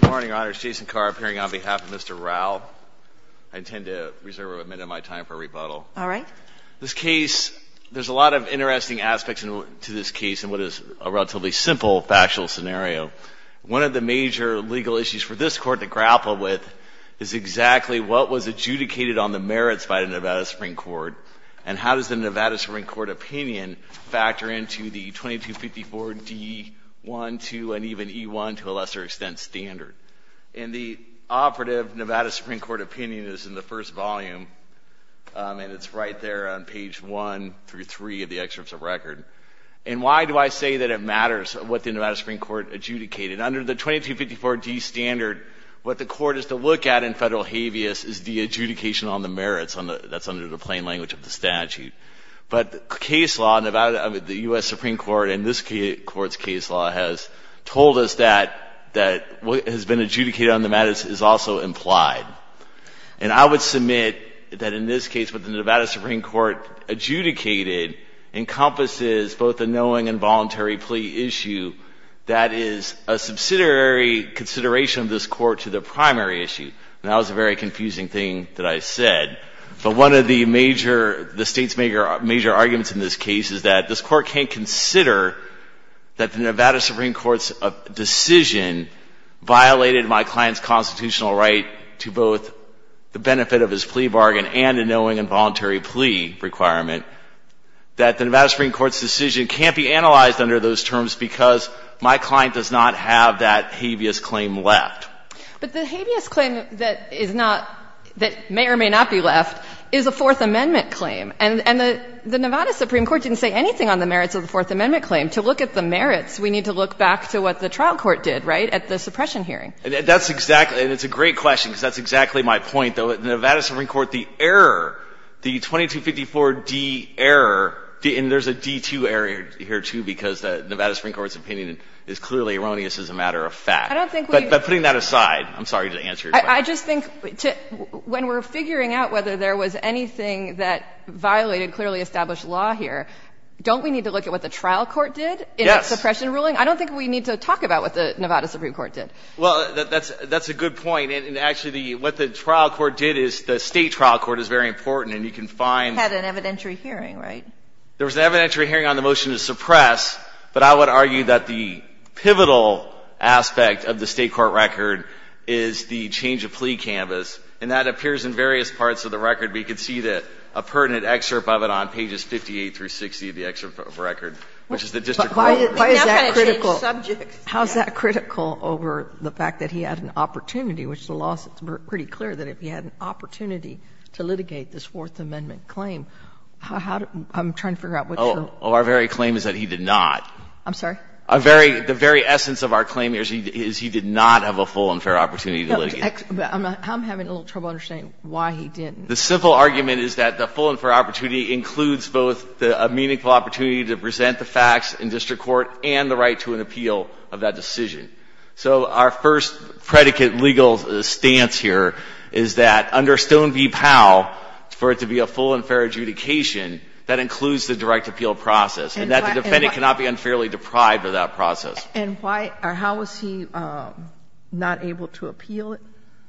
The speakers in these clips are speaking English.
Good morning, Your Honors. Jason Carr appearing on behalf of Mr. Rowell. I intend to reserve a minute of my time for rebuttal. All right. This case, there's a lot of interesting aspects to this case in what is a relatively simple factual scenario. One of the major legal issues for this Court to grapple with is exactly what was adjudicated on the merits by the Nevada Supreme Court and how does the Nevada Supreme Court opinion factor into the 2254 D. 1, 2, and even E. 1, to a lesser extent, standard. And the operative Nevada Supreme Court opinion is in the first volume, and it's right there on page 1 through 3 of the excerpts of record. And why do I say that it matters what the Nevada Supreme Court adjudicated? Under the 2254 D. standard, what the Court is to look at in Federal habeas is the adjudication on the merits. That's under the plain language of the statute. But case law, the U.S. Supreme Court and this Court's case law has told us that what has been adjudicated on the merits is also implied. And I would submit that in this case, what the Nevada Supreme Court adjudicated encompasses both a knowing and voluntary plea issue that is a subsidiary consideration of this Court to the primary issue. And that was a very confusing thing that I said. But one of the major — the State's major arguments in this case is that this Court can't consider that the Nevada Supreme Court's decision violated my client's constitutional right to both the benefit of his plea bargain and a knowing and voluntary plea requirement, that the Nevada Supreme Court's decision can't be analyzed under those terms because my client does not have that habeas claim left. But the habeas claim that is not — that may or may not be left is a Fourth Amendment claim, and the Nevada Supreme Court didn't say anything on the merits of the Fourth Amendment claim. To look at the merits, we need to look back to what the trial court did, right, at the suppression hearing. That's exactly — and it's a great question, because that's exactly my point, though. The 2254D error — and there's a D2 error here, too, because the Nevada Supreme Court's opinion is clearly erroneous as a matter of fact. I don't think we — But putting that aside, I'm sorry to answer your question. I just think when we're figuring out whether there was anything that violated clearly established law here, don't we need to look at what the trial court did in that suppression ruling? Yes. I don't think we need to talk about what the Nevada Supreme Court did. Well, that's a good point. And actually, what the trial court did is — the State trial court is very important, and you can find — It had an evidentiary hearing, right? There was an evidentiary hearing on the motion to suppress, but I would argue that the pivotal aspect of the State court record is the change of plea canvas. And that appears in various parts of the record, but you can see a pertinent excerpt of it on pages 58 through 60 of the excerpt of the record, which is the district court. Why is that critical? Well, how is that critical over the fact that he had an opportunity, which the law is pretty clear that if he had an opportunity to litigate this Fourth Amendment claim, how do — I'm trying to figure out which of the — Oh, our very claim is that he did not. I'm sorry? The very essence of our claim is he did not have a full and fair opportunity to litigate. I'm having a little trouble understanding why he didn't. The simple argument is that the full and fair opportunity includes both a meaningful opportunity to present the facts in district court and the right to an appeal of that decision. So our first predicate legal stance here is that under Stone v. Powell, for it to be a full and fair adjudication, that includes the direct appeal process, and that the defendant cannot be unfairly deprived of that process. And why — or how was he not able to appeal it?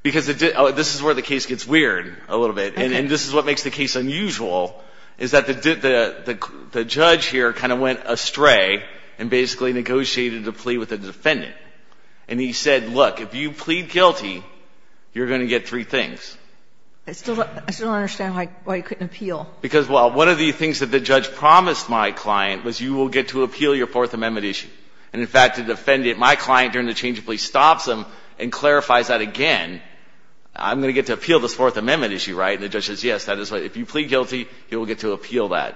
Because it — this is where the case gets weird a little bit. Okay. And this is what makes the case unusual, is that the judge here kind of went astray and basically negotiated a plea with the defendant. And he said, look, if you plead guilty, you're going to get three things. I still don't understand why he couldn't appeal. Because, well, one of the things that the judge promised my client was you will get to appeal your Fourth Amendment issue. And, in fact, the defendant — my client during the change of plea stops him and clarifies that again. I'm going to get to appeal this Fourth Amendment issue, right? And the judge says, yes, that is what — if you plead guilty, you will get to appeal that.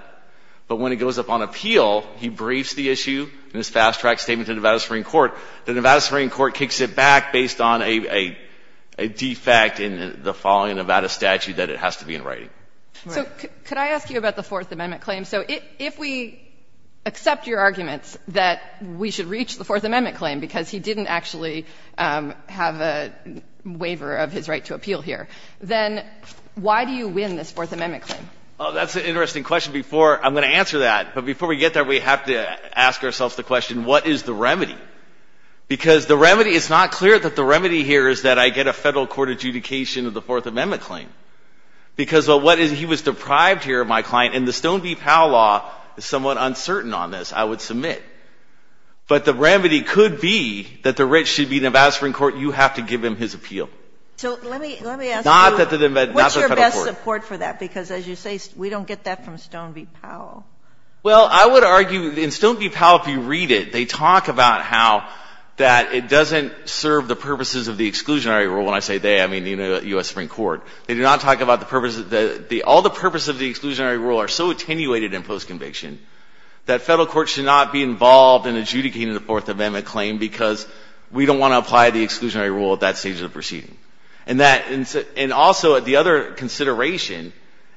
But when he goes up on appeal, he briefs the issue in his fast-track statement to Nevada Supreme Court. The Nevada Supreme Court kicks it back based on a defect in the following Nevada statute that it has to be in writing. Right. So could I ask you about the Fourth Amendment claim? So if we accept your arguments that we should reach the Fourth Amendment claim because he didn't actually have a waiver of his right to appeal here, then why do you win this Fourth Amendment claim? Oh, that's an interesting question. Before — I'm going to answer that. But before we get there, we have to ask ourselves the question, what is the remedy? Because the remedy — it's not clear that the remedy here is that I get a Federal Court adjudication of the Fourth Amendment claim. Because what is — he was deprived here, my client, and the Stone v. Powell law is somewhat uncertain on this, I would submit. But the remedy could be that the writ should be in Nevada Supreme Court. You have to give him his appeal. So let me — Not that the Nevada — not the Federal Court. What's your best support for that? Because as you say, we don't get that from Stone v. Powell. Well, I would argue in Stone v. Powell, if you read it, they talk about how that it doesn't serve the purposes of the exclusionary rule. When I say they, I mean the U.S. Supreme Court. They do not talk about the purpose — all the purposes of the exclusionary rule are so attenuated in post-conviction that Federal courts should not be involved in adjudicating the Fourth Amendment claim because we don't want to apply the exclusionary rule at that stage of the proceeding. And that — and also, the other consideration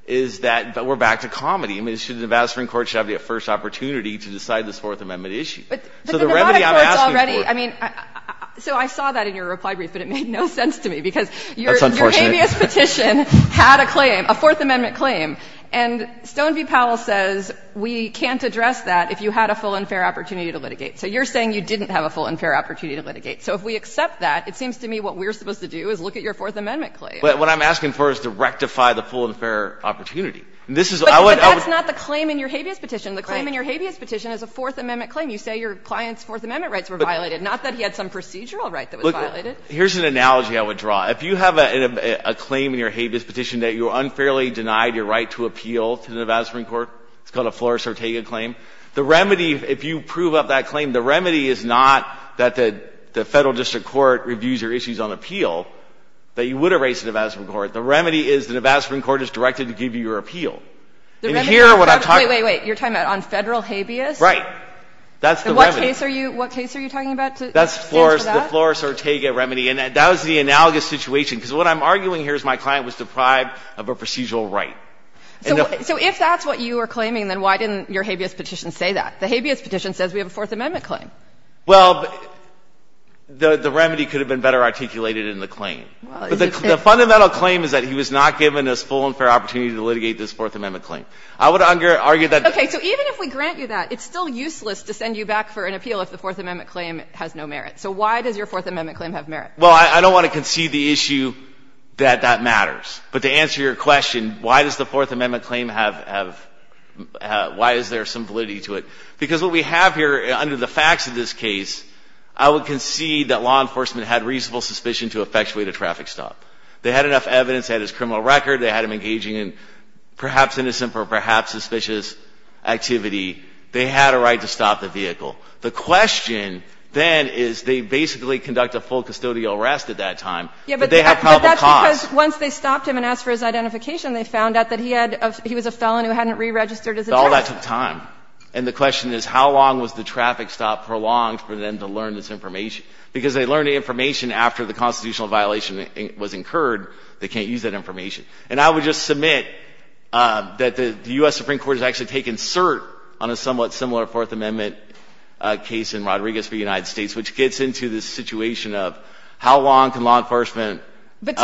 is that we're back to comedy. I mean, the Nevada Supreme Court should have the first opportunity to decide this Fourth Amendment issue. So the remedy I'm asking for — But the Nevada court's already — I mean, so I saw that in your reply brief, but it made no sense to me because your — That's unfortunate. Your habeas petition had a claim, a Fourth Amendment claim, and Stone v. Powell says we can't address that if you had a full and fair opportunity to litigate. So you're saying you didn't have a full and fair opportunity to litigate. So if we accept that, it seems to me what we're supposed to do is look at your Fourth Amendment claim. What I'm asking for is to rectify the full and fair opportunity. This is — But that's not the claim in your habeas petition. The claim in your habeas petition is a Fourth Amendment claim. You say your client's Fourth Amendment rights were violated, not that he had some procedural right that was violated. Look, here's an analogy I would draw. If you have a claim in your habeas petition that you're unfairly denied your right to appeal to the Nevada Supreme Court, it's called a Flores-Ortega claim, the remedy — if you prove up that claim, the remedy is not that the Federal District Court reviews your issues on appeal, that you would erase the Nevada Supreme Court. The remedy is the Nevada Supreme Court is directed to give you your appeal. And here, what I'm talking — Wait, wait, wait. You're talking about on Federal habeas? Right. That's the remedy. And what case are you — what case are you talking about that stands for that? That's the Flores-Ortega remedy. And that was the analogous situation. Because what I'm arguing here is my client was deprived of a procedural right. So if that's what you were claiming, then why didn't your habeas petition say that? The habeas petition says we have a Fourth Amendment claim. Well, the remedy could have been better articulated in the claim. But the fundamental claim is that he was not given his full and fair opportunity to litigate this Fourth Amendment claim. I would argue that — Okay. So even if we grant you that, it's still useless to send you back for an appeal if the Fourth Amendment claim has no merit. So why does your Fourth Amendment claim have merit? Well, I don't want to concede the issue that that matters. But to answer your question, why does the Fourth Amendment claim have — why is there some validity to it? Because what we have here, under the facts of this case, I would concede that law enforcement had reasonable suspicion to effectuate a traffic stop. They had enough evidence. They had his criminal record. They had him engaging in perhaps innocent or perhaps suspicious activity. They had a right to stop the vehicle. The question then is they basically conduct a full custodial arrest at that time. But they have probable cause. But that's because once they stopped him and asked for his identification, they found out that he had — he was a felon who hadn't re-registered his address. But all that took time. And the question is how long was the traffic stop prolonged for them to learn this information? Because they learned the information after the constitutional violation was incurred. They can't use that information. And I would just submit that the U.S. Supreme Court has actually taken cert on a somewhat similar Fourth Amendment case in Rodriguez v. United States, which gets into the situation of how long can law enforcement prolong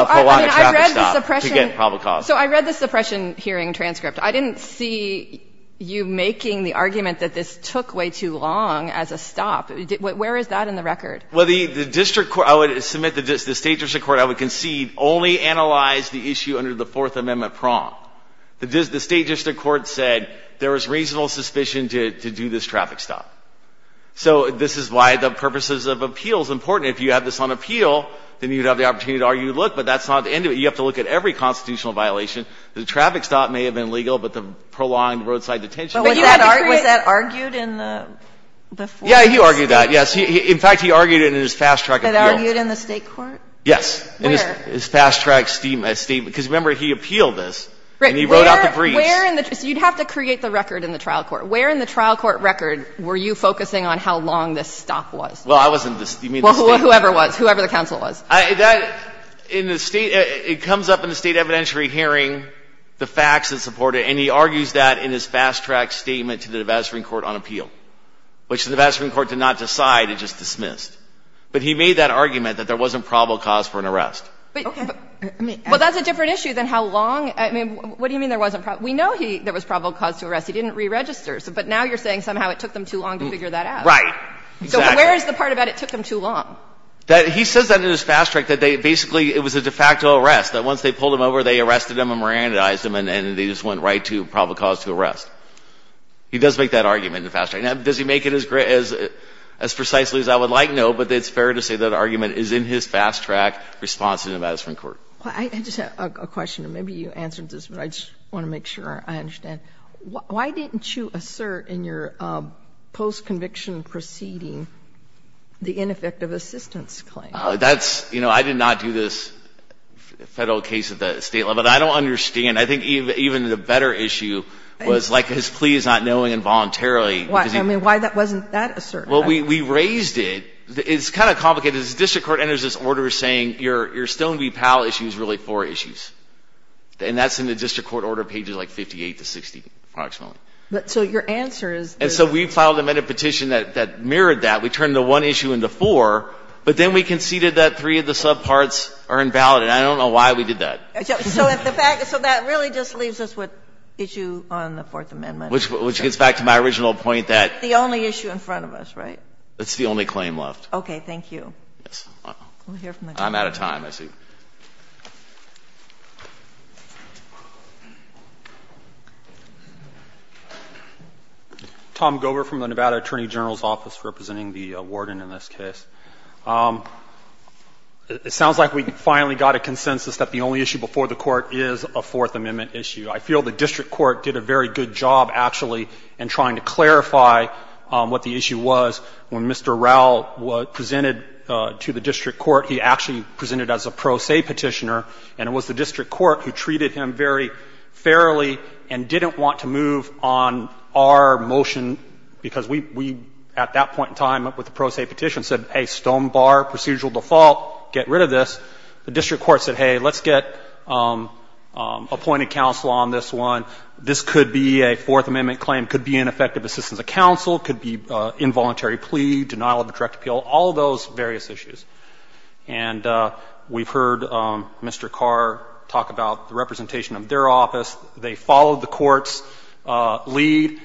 a traffic stop to get probable cause. So I read the suppression hearing transcript. I didn't see you making the argument that this took way too long as a stop. Where is that in the record? Well, the district court — I would submit that the state district court, I would concede, only analyzed the issue under the Fourth Amendment prong. The state district court said there was reasonable suspicion to do this traffic stop. So this is why the purposes of appeal is important. If you have this on appeal, then you would have the opportunity to argue, look, but that's not the end of it. You have to look at every constitutional violation. The traffic stop may have been legal, but the prolonged roadside detention was not. But was that argued in the Fourth Amendment? Yeah, he argued that, yes. In fact, he argued it in his fast-track appeal. That argued in the state court? Yes. Where? In his fast-track statement. Because, remember, he appealed this, and he wrote out the briefs. Right. Where in the — so you'd have to create the record in the trial court. Where in the trial court record were you focusing on how long this stop was? Well, I wasn't. You mean the state? Well, whoever was, whoever the counsel was. That — in the state — it comes up in the state evidentiary hearing, the facts that support it. And he argues that in his fast-track statement to the divestment court on appeal, which the divestment court did not decide. It just dismissed. But he made that argument that there wasn't probable cause for an arrest. Okay. Well, that's a different issue than how long. I mean, what do you mean there wasn't probable? We know there was probable cause to arrest. He didn't re-register. But now you're saying somehow it took them too long to figure that out. Right. Exactly. So where is the part about it took them too long? He says that in his fast-track, that they basically — it was a de facto arrest, that once they pulled him over, they arrested him and merandized him, and they just went right to probable cause to arrest. He does make that argument in the fast-track. Now, does he make it as precisely as I would like? I know, but it's fair to say that argument is in his fast-track response to the divestment court. I just have a question. Maybe you answered this, but I just want to make sure I understand. Why didn't you assert in your post-conviction proceeding the ineffective assistance claim? That's — you know, I did not do this Federal case at the State level. But I don't understand. I think even the better issue was, like, his plea is not knowing involuntarily because he — I mean, why wasn't that asserted? Well, we raised it. It's kind of complicated. The district court enters this order saying your Stone v. Powell issue is really four issues. And that's in the district court order, pages, like, 58 to 60, approximately. So your answer is — And so we filed a petition that mirrored that. We turned the one issue into four, but then we conceded that three of the subparts are invalid, and I don't know why we did that. So if the fact — so that really just leaves us with issue on the Fourth Amendment. Which gets back to my original point that — But it's the only issue in front of us, right? It's the only claim left. Okay. Thank you. Yes. I'm out of time, I see. Tom Gover from the Nevada Attorney General's office, representing the warden in this case. It sounds like we finally got a consensus that the only issue before the Court is a Fourth Amendment issue. I feel the district court did a very good job, actually, in trying to clarify what the issue was. When Mr. Raul was presented to the district court, he actually presented as a pro se petitioner, and it was the district court who treated him very fairly and didn't want to move on our motion, because we, at that point in time, with the pro se petition, said, hey, stone bar, procedural default, get rid of this. The district court said, hey, let's get appointed counsel on this one. This could be a Fourth Amendment claim, could be ineffective assistance of counsel, could be involuntary plea, denial of a direct appeal, all those various issues. And we've heard Mr. Carr talk about the representation of their office. They followed the court's lead,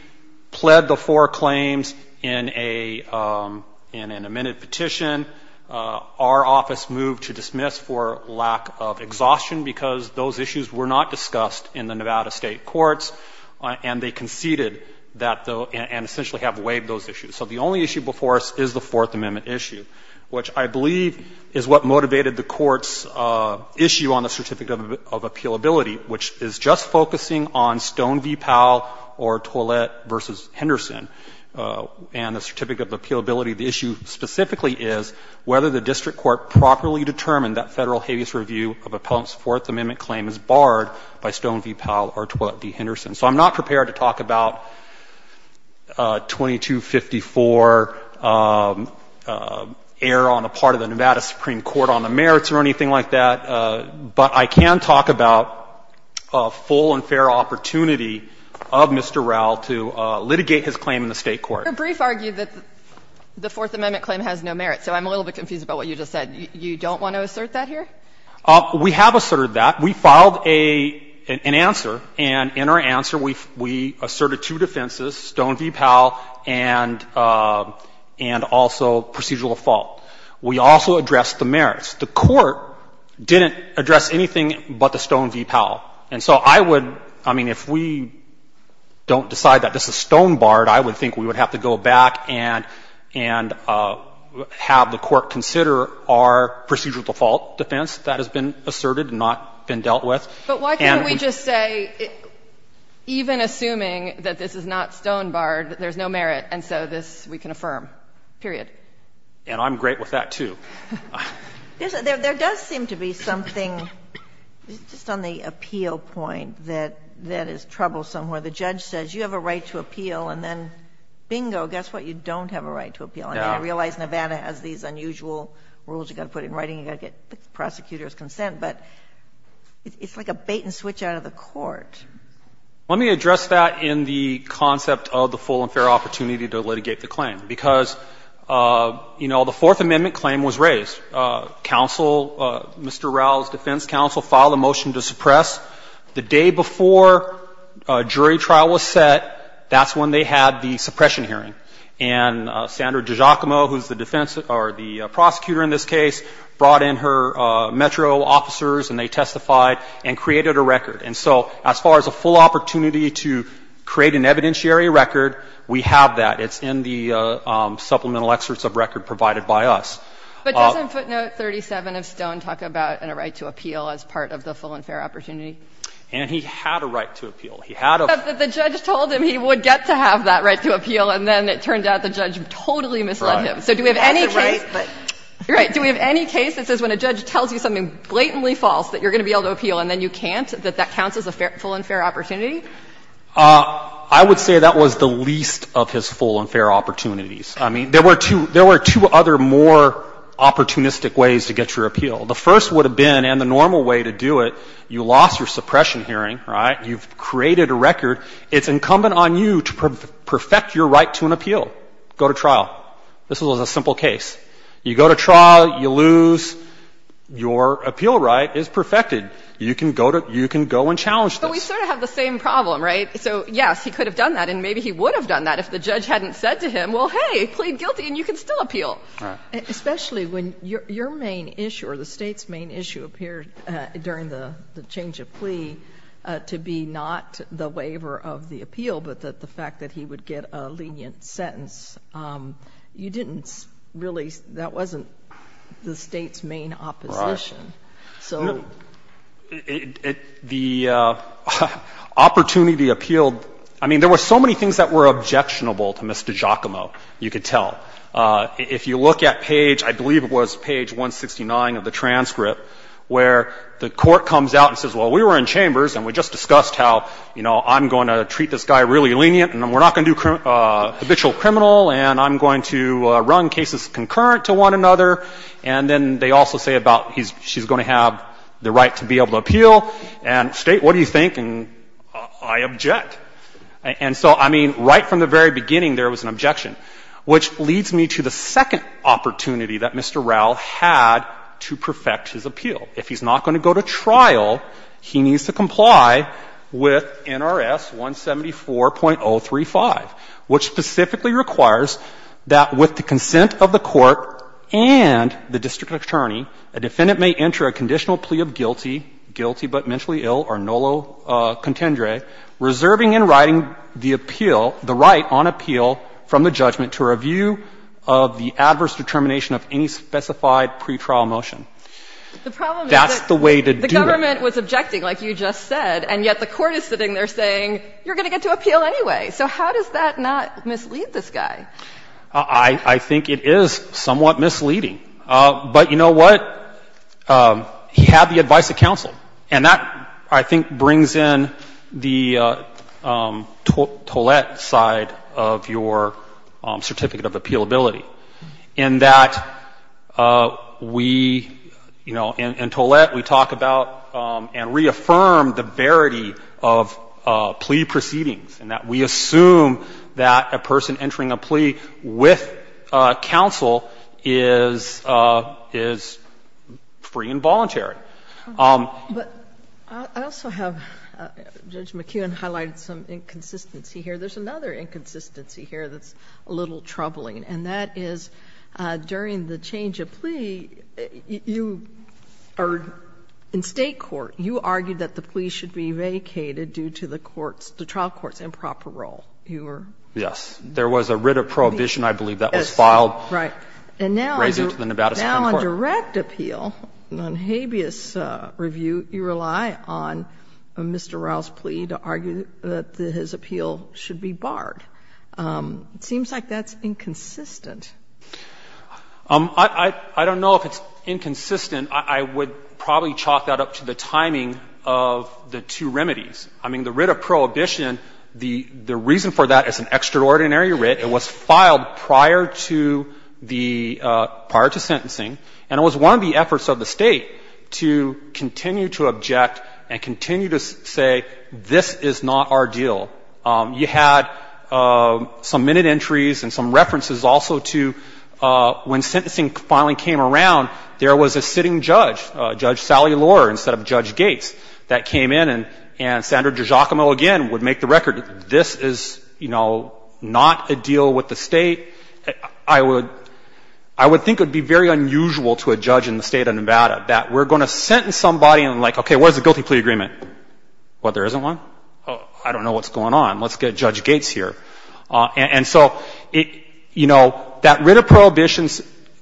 pled the four claims in a — in an amended petition. Our office moved to dismiss for lack of exhaustion, because those issues were not discussed in the Nevada State courts, and they conceded that — and essentially have waived those issues. So the only issue before us is the Fourth Amendment issue, which I believe is what motivated the Court's issue on the certificate of appealability, which is just focusing on Stone v. Powell or Toilette v. Henderson. And the certificate of appealability, the issue specifically is whether the district court properly determined that Federal habeas review of Appellant's Fourth Amendment claim is barred by Stone v. Powell or Toilette v. Henderson. So I'm not prepared to talk about 2254 error on the part of the Nevada Supreme Court on the merits or anything like that, but I can talk about a full and fair opportunity of Mr. Raul to litigate his claim in the State court. Kagan Your brief argued that the Fourth Amendment claim has no merit, so I'm a little bit confused about what you just said. You don't want to assert that here? We have asserted that. We filed an answer, and in our answer we asserted two defenses, Stone v. Powell and also procedural default. The Court didn't address anything but the Stone v. Powell. And so I would, I mean, if we don't decide that this is Stone barred, I would think we would have to go back and have the Court consider our procedural default defense that has been asserted and not been dealt with. But why can't we just say, even assuming that this is not Stone barred, that there's no merit, and so this we can affirm, period? And I'm great with that, too. There does seem to be something, just on the appeal point, that is troublesome, where the judge says, you have a right to appeal, and then, bingo, guess what? You don't have a right to appeal. I mean, I realize Nevada has these unusual rules you've got to put in writing, you've got to get the prosecutor's consent, but it's like a bait and switch out of the Court. Let me address that in the concept of the full and fair opportunity to litigate the claim was raised. Counsel, Mr. Rowell's defense counsel, filed a motion to suppress. The day before jury trial was set, that's when they had the suppression hearing. And Sandra DiGiacomo, who's the defense, or the prosecutor in this case, brought in her metro officers, and they testified and created a record. And so as far as a full opportunity to create an evidentiary record, we have that. It's in the supplemental excerpts of record provided by us. But doesn't footnote 37 of Stone talk about a right to appeal as part of the full and fair opportunity? And he had a right to appeal. He had a right to appeal. But the judge told him he would get to have that right to appeal, and then it turned out the judge totally misled him. Right. So do we have any case that says when a judge tells you something blatantly false that you're going to be able to appeal and then you can't, that that counts as a full and fair opportunity? I would say that was the least of his full and fair opportunities. I mean, there were two other more opportunistic ways to get your appeal. The first would have been, and the normal way to do it, you lost your suppression hearing, right? You've created a record. It's incumbent on you to perfect your right to an appeal. Go to trial. This was a simple case. You go to trial. You lose. Your appeal right is perfected. You can go and challenge this. But we sort of have the same problem, right? So, yes, he could have done that, and maybe he would have done that if the judge hadn't said to him, well, hey, he pleaded guilty, and you can still appeal. Right. Especially when your main issue or the state's main issue appeared during the change of plea to be not the waiver of the appeal, but that the fact that he would get a lenient sentence, you didn't really, that wasn't the state's main opposition. Right. So. The opportunity appealed, I mean, there were so many things that were objectionable to Mr. Giacomo, you could tell. If you look at page, I believe it was page 169 of the transcript, where the court comes out and says, well, we were in chambers, and we just discussed how, you know, I'm going to treat this guy really lenient, and we're not going to do habitual criminal, and I'm going to run cases concurrent to one another. And then they also say about he's, she's going to have the right to be able to appeal. And state, what do you think? And I object. And so, I mean, right from the very beginning, there was an objection, which leads me to the second opportunity that Mr. Raul had to perfect his appeal. If he's not going to go to trial, he needs to comply with NRS 174.035, which specifically requires that with the consent of the court and the district attorney, a defendant may enter a conditional plea of guilty, guilty but mentally ill, or nolo contendere, reserving in writing the appeal, the right on appeal from the judgment to review of the adverse determination of any specified pretrial motion. That's the way to do it. The problem is that the government was objecting, like you just said, and yet the court is sitting there saying, you're going to get to appeal anyway. So how does that not mislead this guy? I think it is somewhat misleading. But you know what? He had the advice of counsel. And that, I think, brings in the Tollett side of your certificate of appealability, in that we, you know, in Tollett, we talk about and reaffirm the verity of plea proceedings, in that we assume that a person entering a plea with counsel is free and voluntary. But I also have, Judge McKeown highlighted some inconsistency here. There's another inconsistency here that's a little troubling, and that is during the change of plea, you are in State court, you argued that the plea should be vacated due to the court's, the trial court's improper role. You were? Yes. There was a writ of prohibition, I believe, that was filed. Yes. Right. Raising to the Nevada Supreme Court. Now, on direct appeal, on habeas review, you rely on Mr. Rouse's plea to argue that his appeal should be barred. It seems like that's inconsistent. I don't know if it's inconsistent. I would probably chalk that up to the timing of the two remedies. I mean, the writ of prohibition, the reason for that is an extraordinary writ, it was filed prior to the, prior to sentencing, and it was one of the efforts of the State to continue to object and continue to say this is not our deal. You had some minute entries and some references also to when sentencing finally came around, there was a sitting judge, Judge Sally Lohr, instead of Judge Gates, that came in and Senator Giacomo again would make the record this is, you know, not a deal with the State. I would, I would think it would be very unusual to a judge in the State of Nevada that we're going to sentence somebody and like, okay, what is the guilty plea agreement? What, there isn't one? I don't know what's going on. Let's get Judge Gates here. And so, you know, that writ of prohibition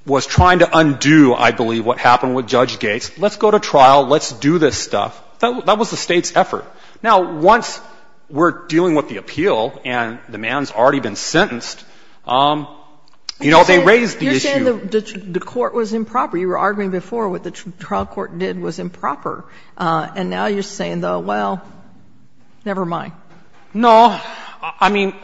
was trying to undo, I believe, what happened with Judge Gates. Let's go to trial. Let's do this stuff. That was the State's effort. Now, once we're dealing with the appeal and the man's already been sentenced, you know, they raised the issue. You're saying the court was improper. You were arguing before what the trial court did was improper. And now you're saying, though, well, never mind. No. I mean,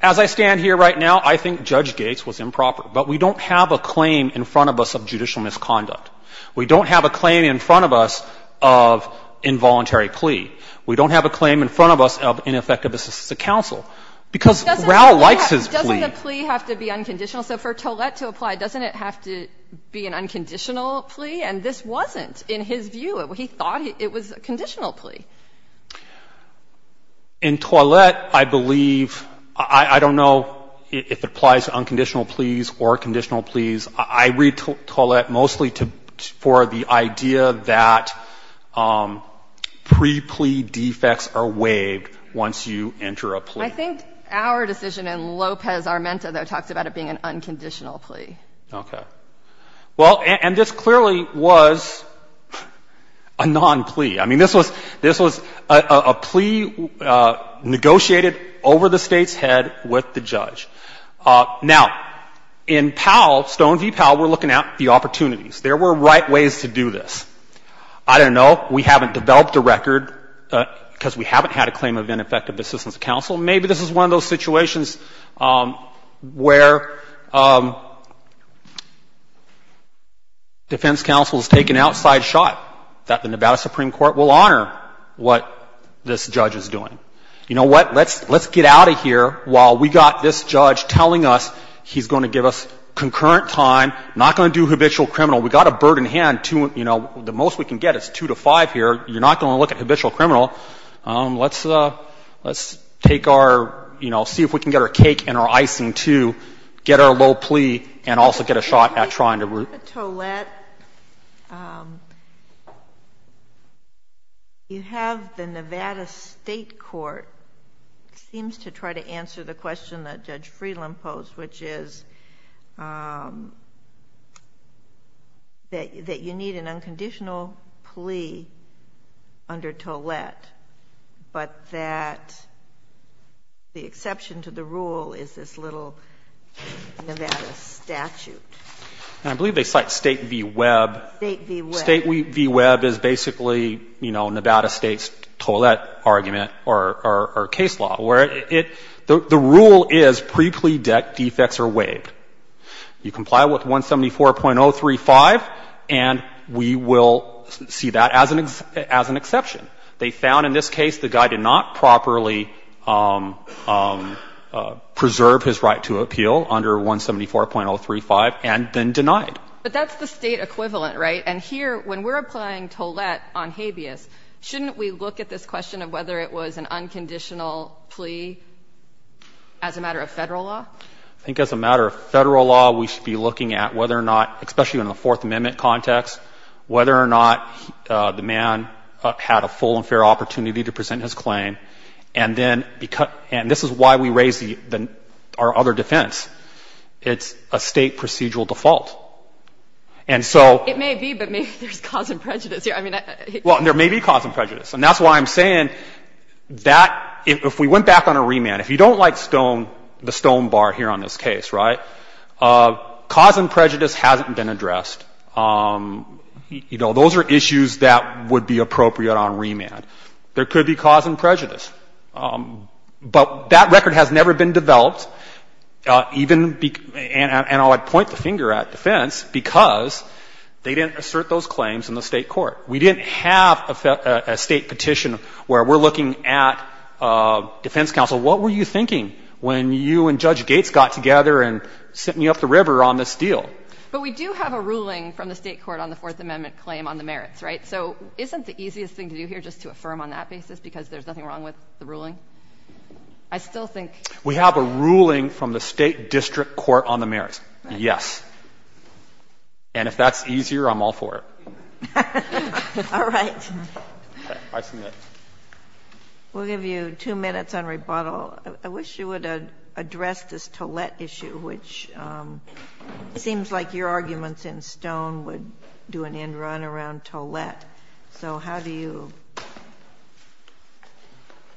as I stand here right now, I think Judge Gates was improper. But we don't have a claim in front of us of judicial misconduct. We don't have a claim in front of us of involuntary plea. We don't have a claim in front of us of ineffective assistance to counsel. Because Rao likes his plea. Doesn't the plea have to be unconditional? So for Toilette to apply, doesn't it have to be an unconditional plea? And this wasn't, in his view. He thought it was a conditional plea. In Toilette, I believe, I don't know if it applies to unconditional pleas or conditional pleas. I read Toilette mostly for the idea that pre-plea defects are waived once you enter a plea. I think our decision in Lopez-Armenta, though, talks about it being an unconditional plea. Okay. Well, and this clearly was a non-plea. I mean, this was a plea negotiated over the State's head with the judge. Now, in Powell, Stone v. Powell, we're looking at the opportunities. There were right ways to do this. I don't know. We haven't developed a record because we haven't had a claim of ineffective assistance to counsel. Maybe this is one of those situations where defense counsel has taken an outside shot that the Nevada Supreme Court will honor what this judge is doing. You know what? Let's get out of here while we've got this judge telling us he's going to give us concurrent time, not going to do habitual criminal. We've got a burden to hand. The most we can get is two to five here. You're not going to look at habitual criminal. Let's take our, you know, see if we can get our cake and our icing to get our low plea and also get a shot at trying to root. If you have a tollette, you have the Nevada State Court seems to try to answer the question that Judge Freeland posed, which is that you need an unconditional plea under tollette, but that the exception to the rule is this little Nevada statute. And I believe they cite State v. Webb. State v. Webb. State v. Webb is basically, you know, Nevada State's tollette argument or case law, where it — the rule is pre-plea debt defects are waived. You comply with 174.035, and we will see that as an exception. They found in this case the guy did not properly preserve his right to appeal under 174.035 and then denied. But that's the State equivalent, right? And here, when we're applying tollette on habeas, shouldn't we look at this question of whether it was an unconditional plea as a matter of Federal law? I think as a matter of Federal law, we should be looking at whether or not, especially in the Fourth Amendment context, whether or not the man had a full and fair opportunity to present his claim. And then — and this is why we raise the — our other defense. It's a State procedural default. And so — It may be, but maybe there's cause and prejudice here. I mean — Well, there may be cause and prejudice. And that's why I'm saying that if we went back on a remand, if you don't like Stone — the Stone bar here on this case, right, cause and prejudice hasn't been addressed. You know, those are issues that would be appropriate on remand. There could be cause and prejudice. But that record has never been developed, even — and I would point the finger at defense, because they didn't assert those claims in the State court. We didn't have a State petition where we're looking at defense counsel, what were you thinking when you and Judge Gates got together and sent me up the river on this deal? But we do have a ruling from the State court on the Fourth Amendment claim on the merits, right? So isn't the easiest thing to do here just to affirm on that basis, because there's nothing wrong with the ruling? I still think — We have a ruling from the State district court on the merits. Yes. And if that's easier, I'm all for it. All right. Okay. I submit. We'll give you two minutes on rebuttal. I wish you would address this Tollett issue, which seems like your arguments in Stone would do an end run around Tollett. So how do you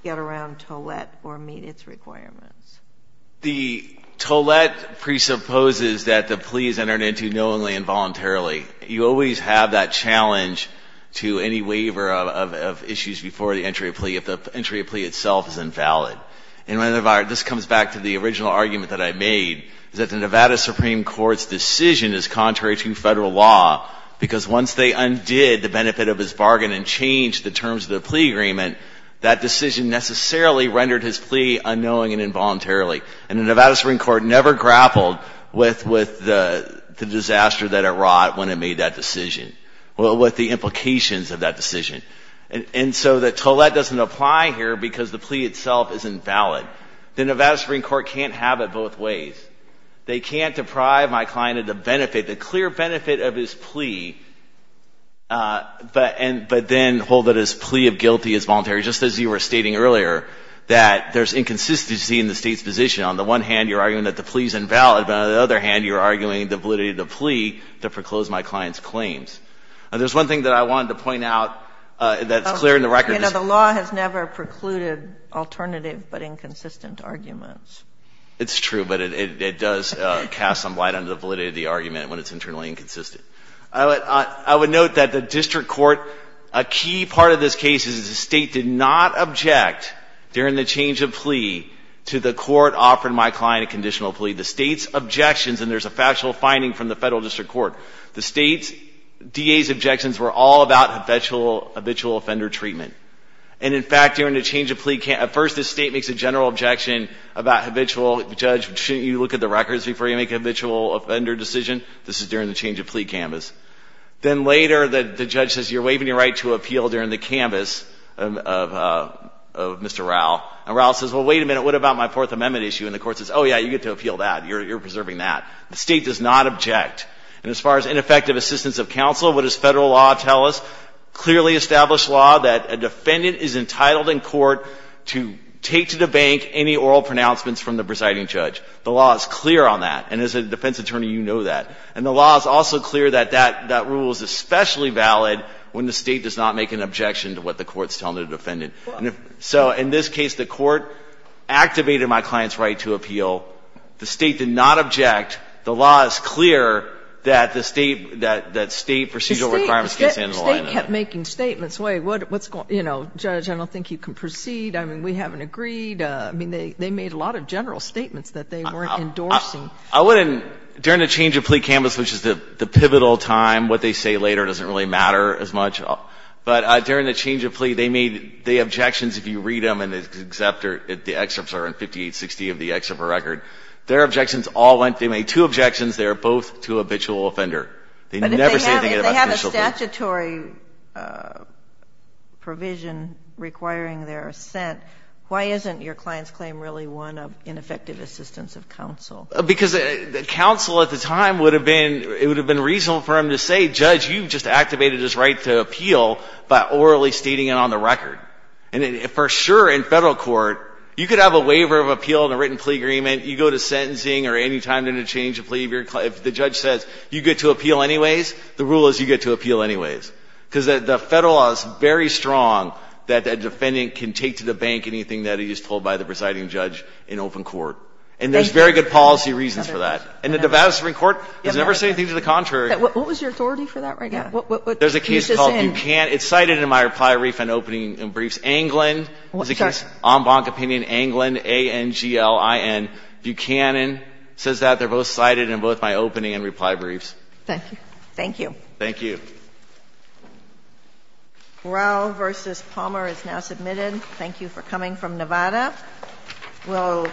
get around Tollett or meet its requirements? The Tollett presupposes that the plea is entered into knowingly and voluntarily. You always have that challenge to any waiver of issues before the entry of plea if the entry of plea itself is invalid. And this comes back to the original argument that I made, that the Nevada Supreme Court's decision is contrary to federal law, because once they undid the benefit of his bargain and changed the terms of the plea agreement, that decision necessarily rendered his plea unknowing and involuntarily. And the Nevada Supreme Court never grappled with the disaster that it wrought when it made that decision, or with the implications of that decision. And so the Tollett doesn't apply here because the plea itself is invalid. The Nevada Supreme Court can't have it both ways. They can't deprive my client of the benefit, the clear benefit of his plea, but then hold that his plea of guilty is voluntary, just as you were stating earlier, that there's inconsistency in the State's position. On the one hand, you're arguing that the plea is invalid, but on the other hand, you're arguing the validity of the plea to foreclose my client's claims. There's one thing that I wanted to point out that's clear in the record. The law has never precluded alternative but inconsistent arguments. It's true, but it does cast some light on the validity of the argument when it's internally inconsistent. I would note that the District Court, a key part of this case, is the State did not object during the change of plea to the court offering my client a conditional plea. The State's objections, and there's a factual finding from the Federal District Court, the State's DA's objections were all about habitual offender treatment. And in fact, during the change of plea, at first the State makes a general objection about habitual. Judge, shouldn't you look at the records before you make a habitual offender decision? This is during the change of plea canvass. Then later, the judge says, you're waiving your right to appeal during the canvass of Mr. Rau. And Rau says, well, wait a minute, what about my Fourth Amendment issue? And the court says, oh, yeah, you get to appeal that. You're preserving that. The State does not object. And as far as ineffective assistance of counsel, what does Federal law tell us? Clearly established law that a defendant is entitled in court to take to the bank any oral pronouncements from the presiding judge. The law is clear on that. And as a defense attorney, you know that. And the law is also clear that that rule is especially valid when the State does not make an objection to what the court is telling the defendant. So in this case, the court activated my client's right to appeal. The State did not object. The law is clear that the State procedural requirements can't stand in the line of that. State kept making statements. Wait, what's going on? You know, Judge, I don't think you can proceed. I mean, we haven't agreed. I don't think you can proceed. I mean, they made a lot of general statements that they weren't endorsing. I wouldn't. During the change of plea canvass, which is the pivotal time, what they say later doesn't really matter as much. But during the change of plea, they made the objections, if you read them in the excerpt or in 5860 of the excerpt of the record, their objections all went, they made two objections. They were both to a habitual offender. They never said anything about habitual offenders. If it's a statutory provision requiring their assent, why isn't your client's claim really one of ineffective assistance of counsel? Because counsel at the time would have been, it would have been reasonable for him to say, Judge, you just activated his right to appeal by orally stating it on the record. And for sure in Federal court, you could have a waiver of appeal in a written plea agreement. You go to sentencing or any time in a change of plea. If the judge says, you get to appeal anyways, the rule is you get to appeal anyways. Because the Federal law is very strong that a defendant can take to the bank anything that he is told by the presiding judge in open court. And there's very good policy reasons for that. And the Nevada Supreme Court has never said anything to the contrary. What was your authority for that right now? There's a case called Buchanan. It's cited in my reply, refund, opening and briefs. Anglin is a case, en banc opinion, Anglin, A-N-G-L-I-N. Buchanan says that. They're both cited in both my opening and reply briefs. Thank you. Thank you. Thank you. Brough v. Palmer is now submitted. Thank you for coming from Nevada. We'll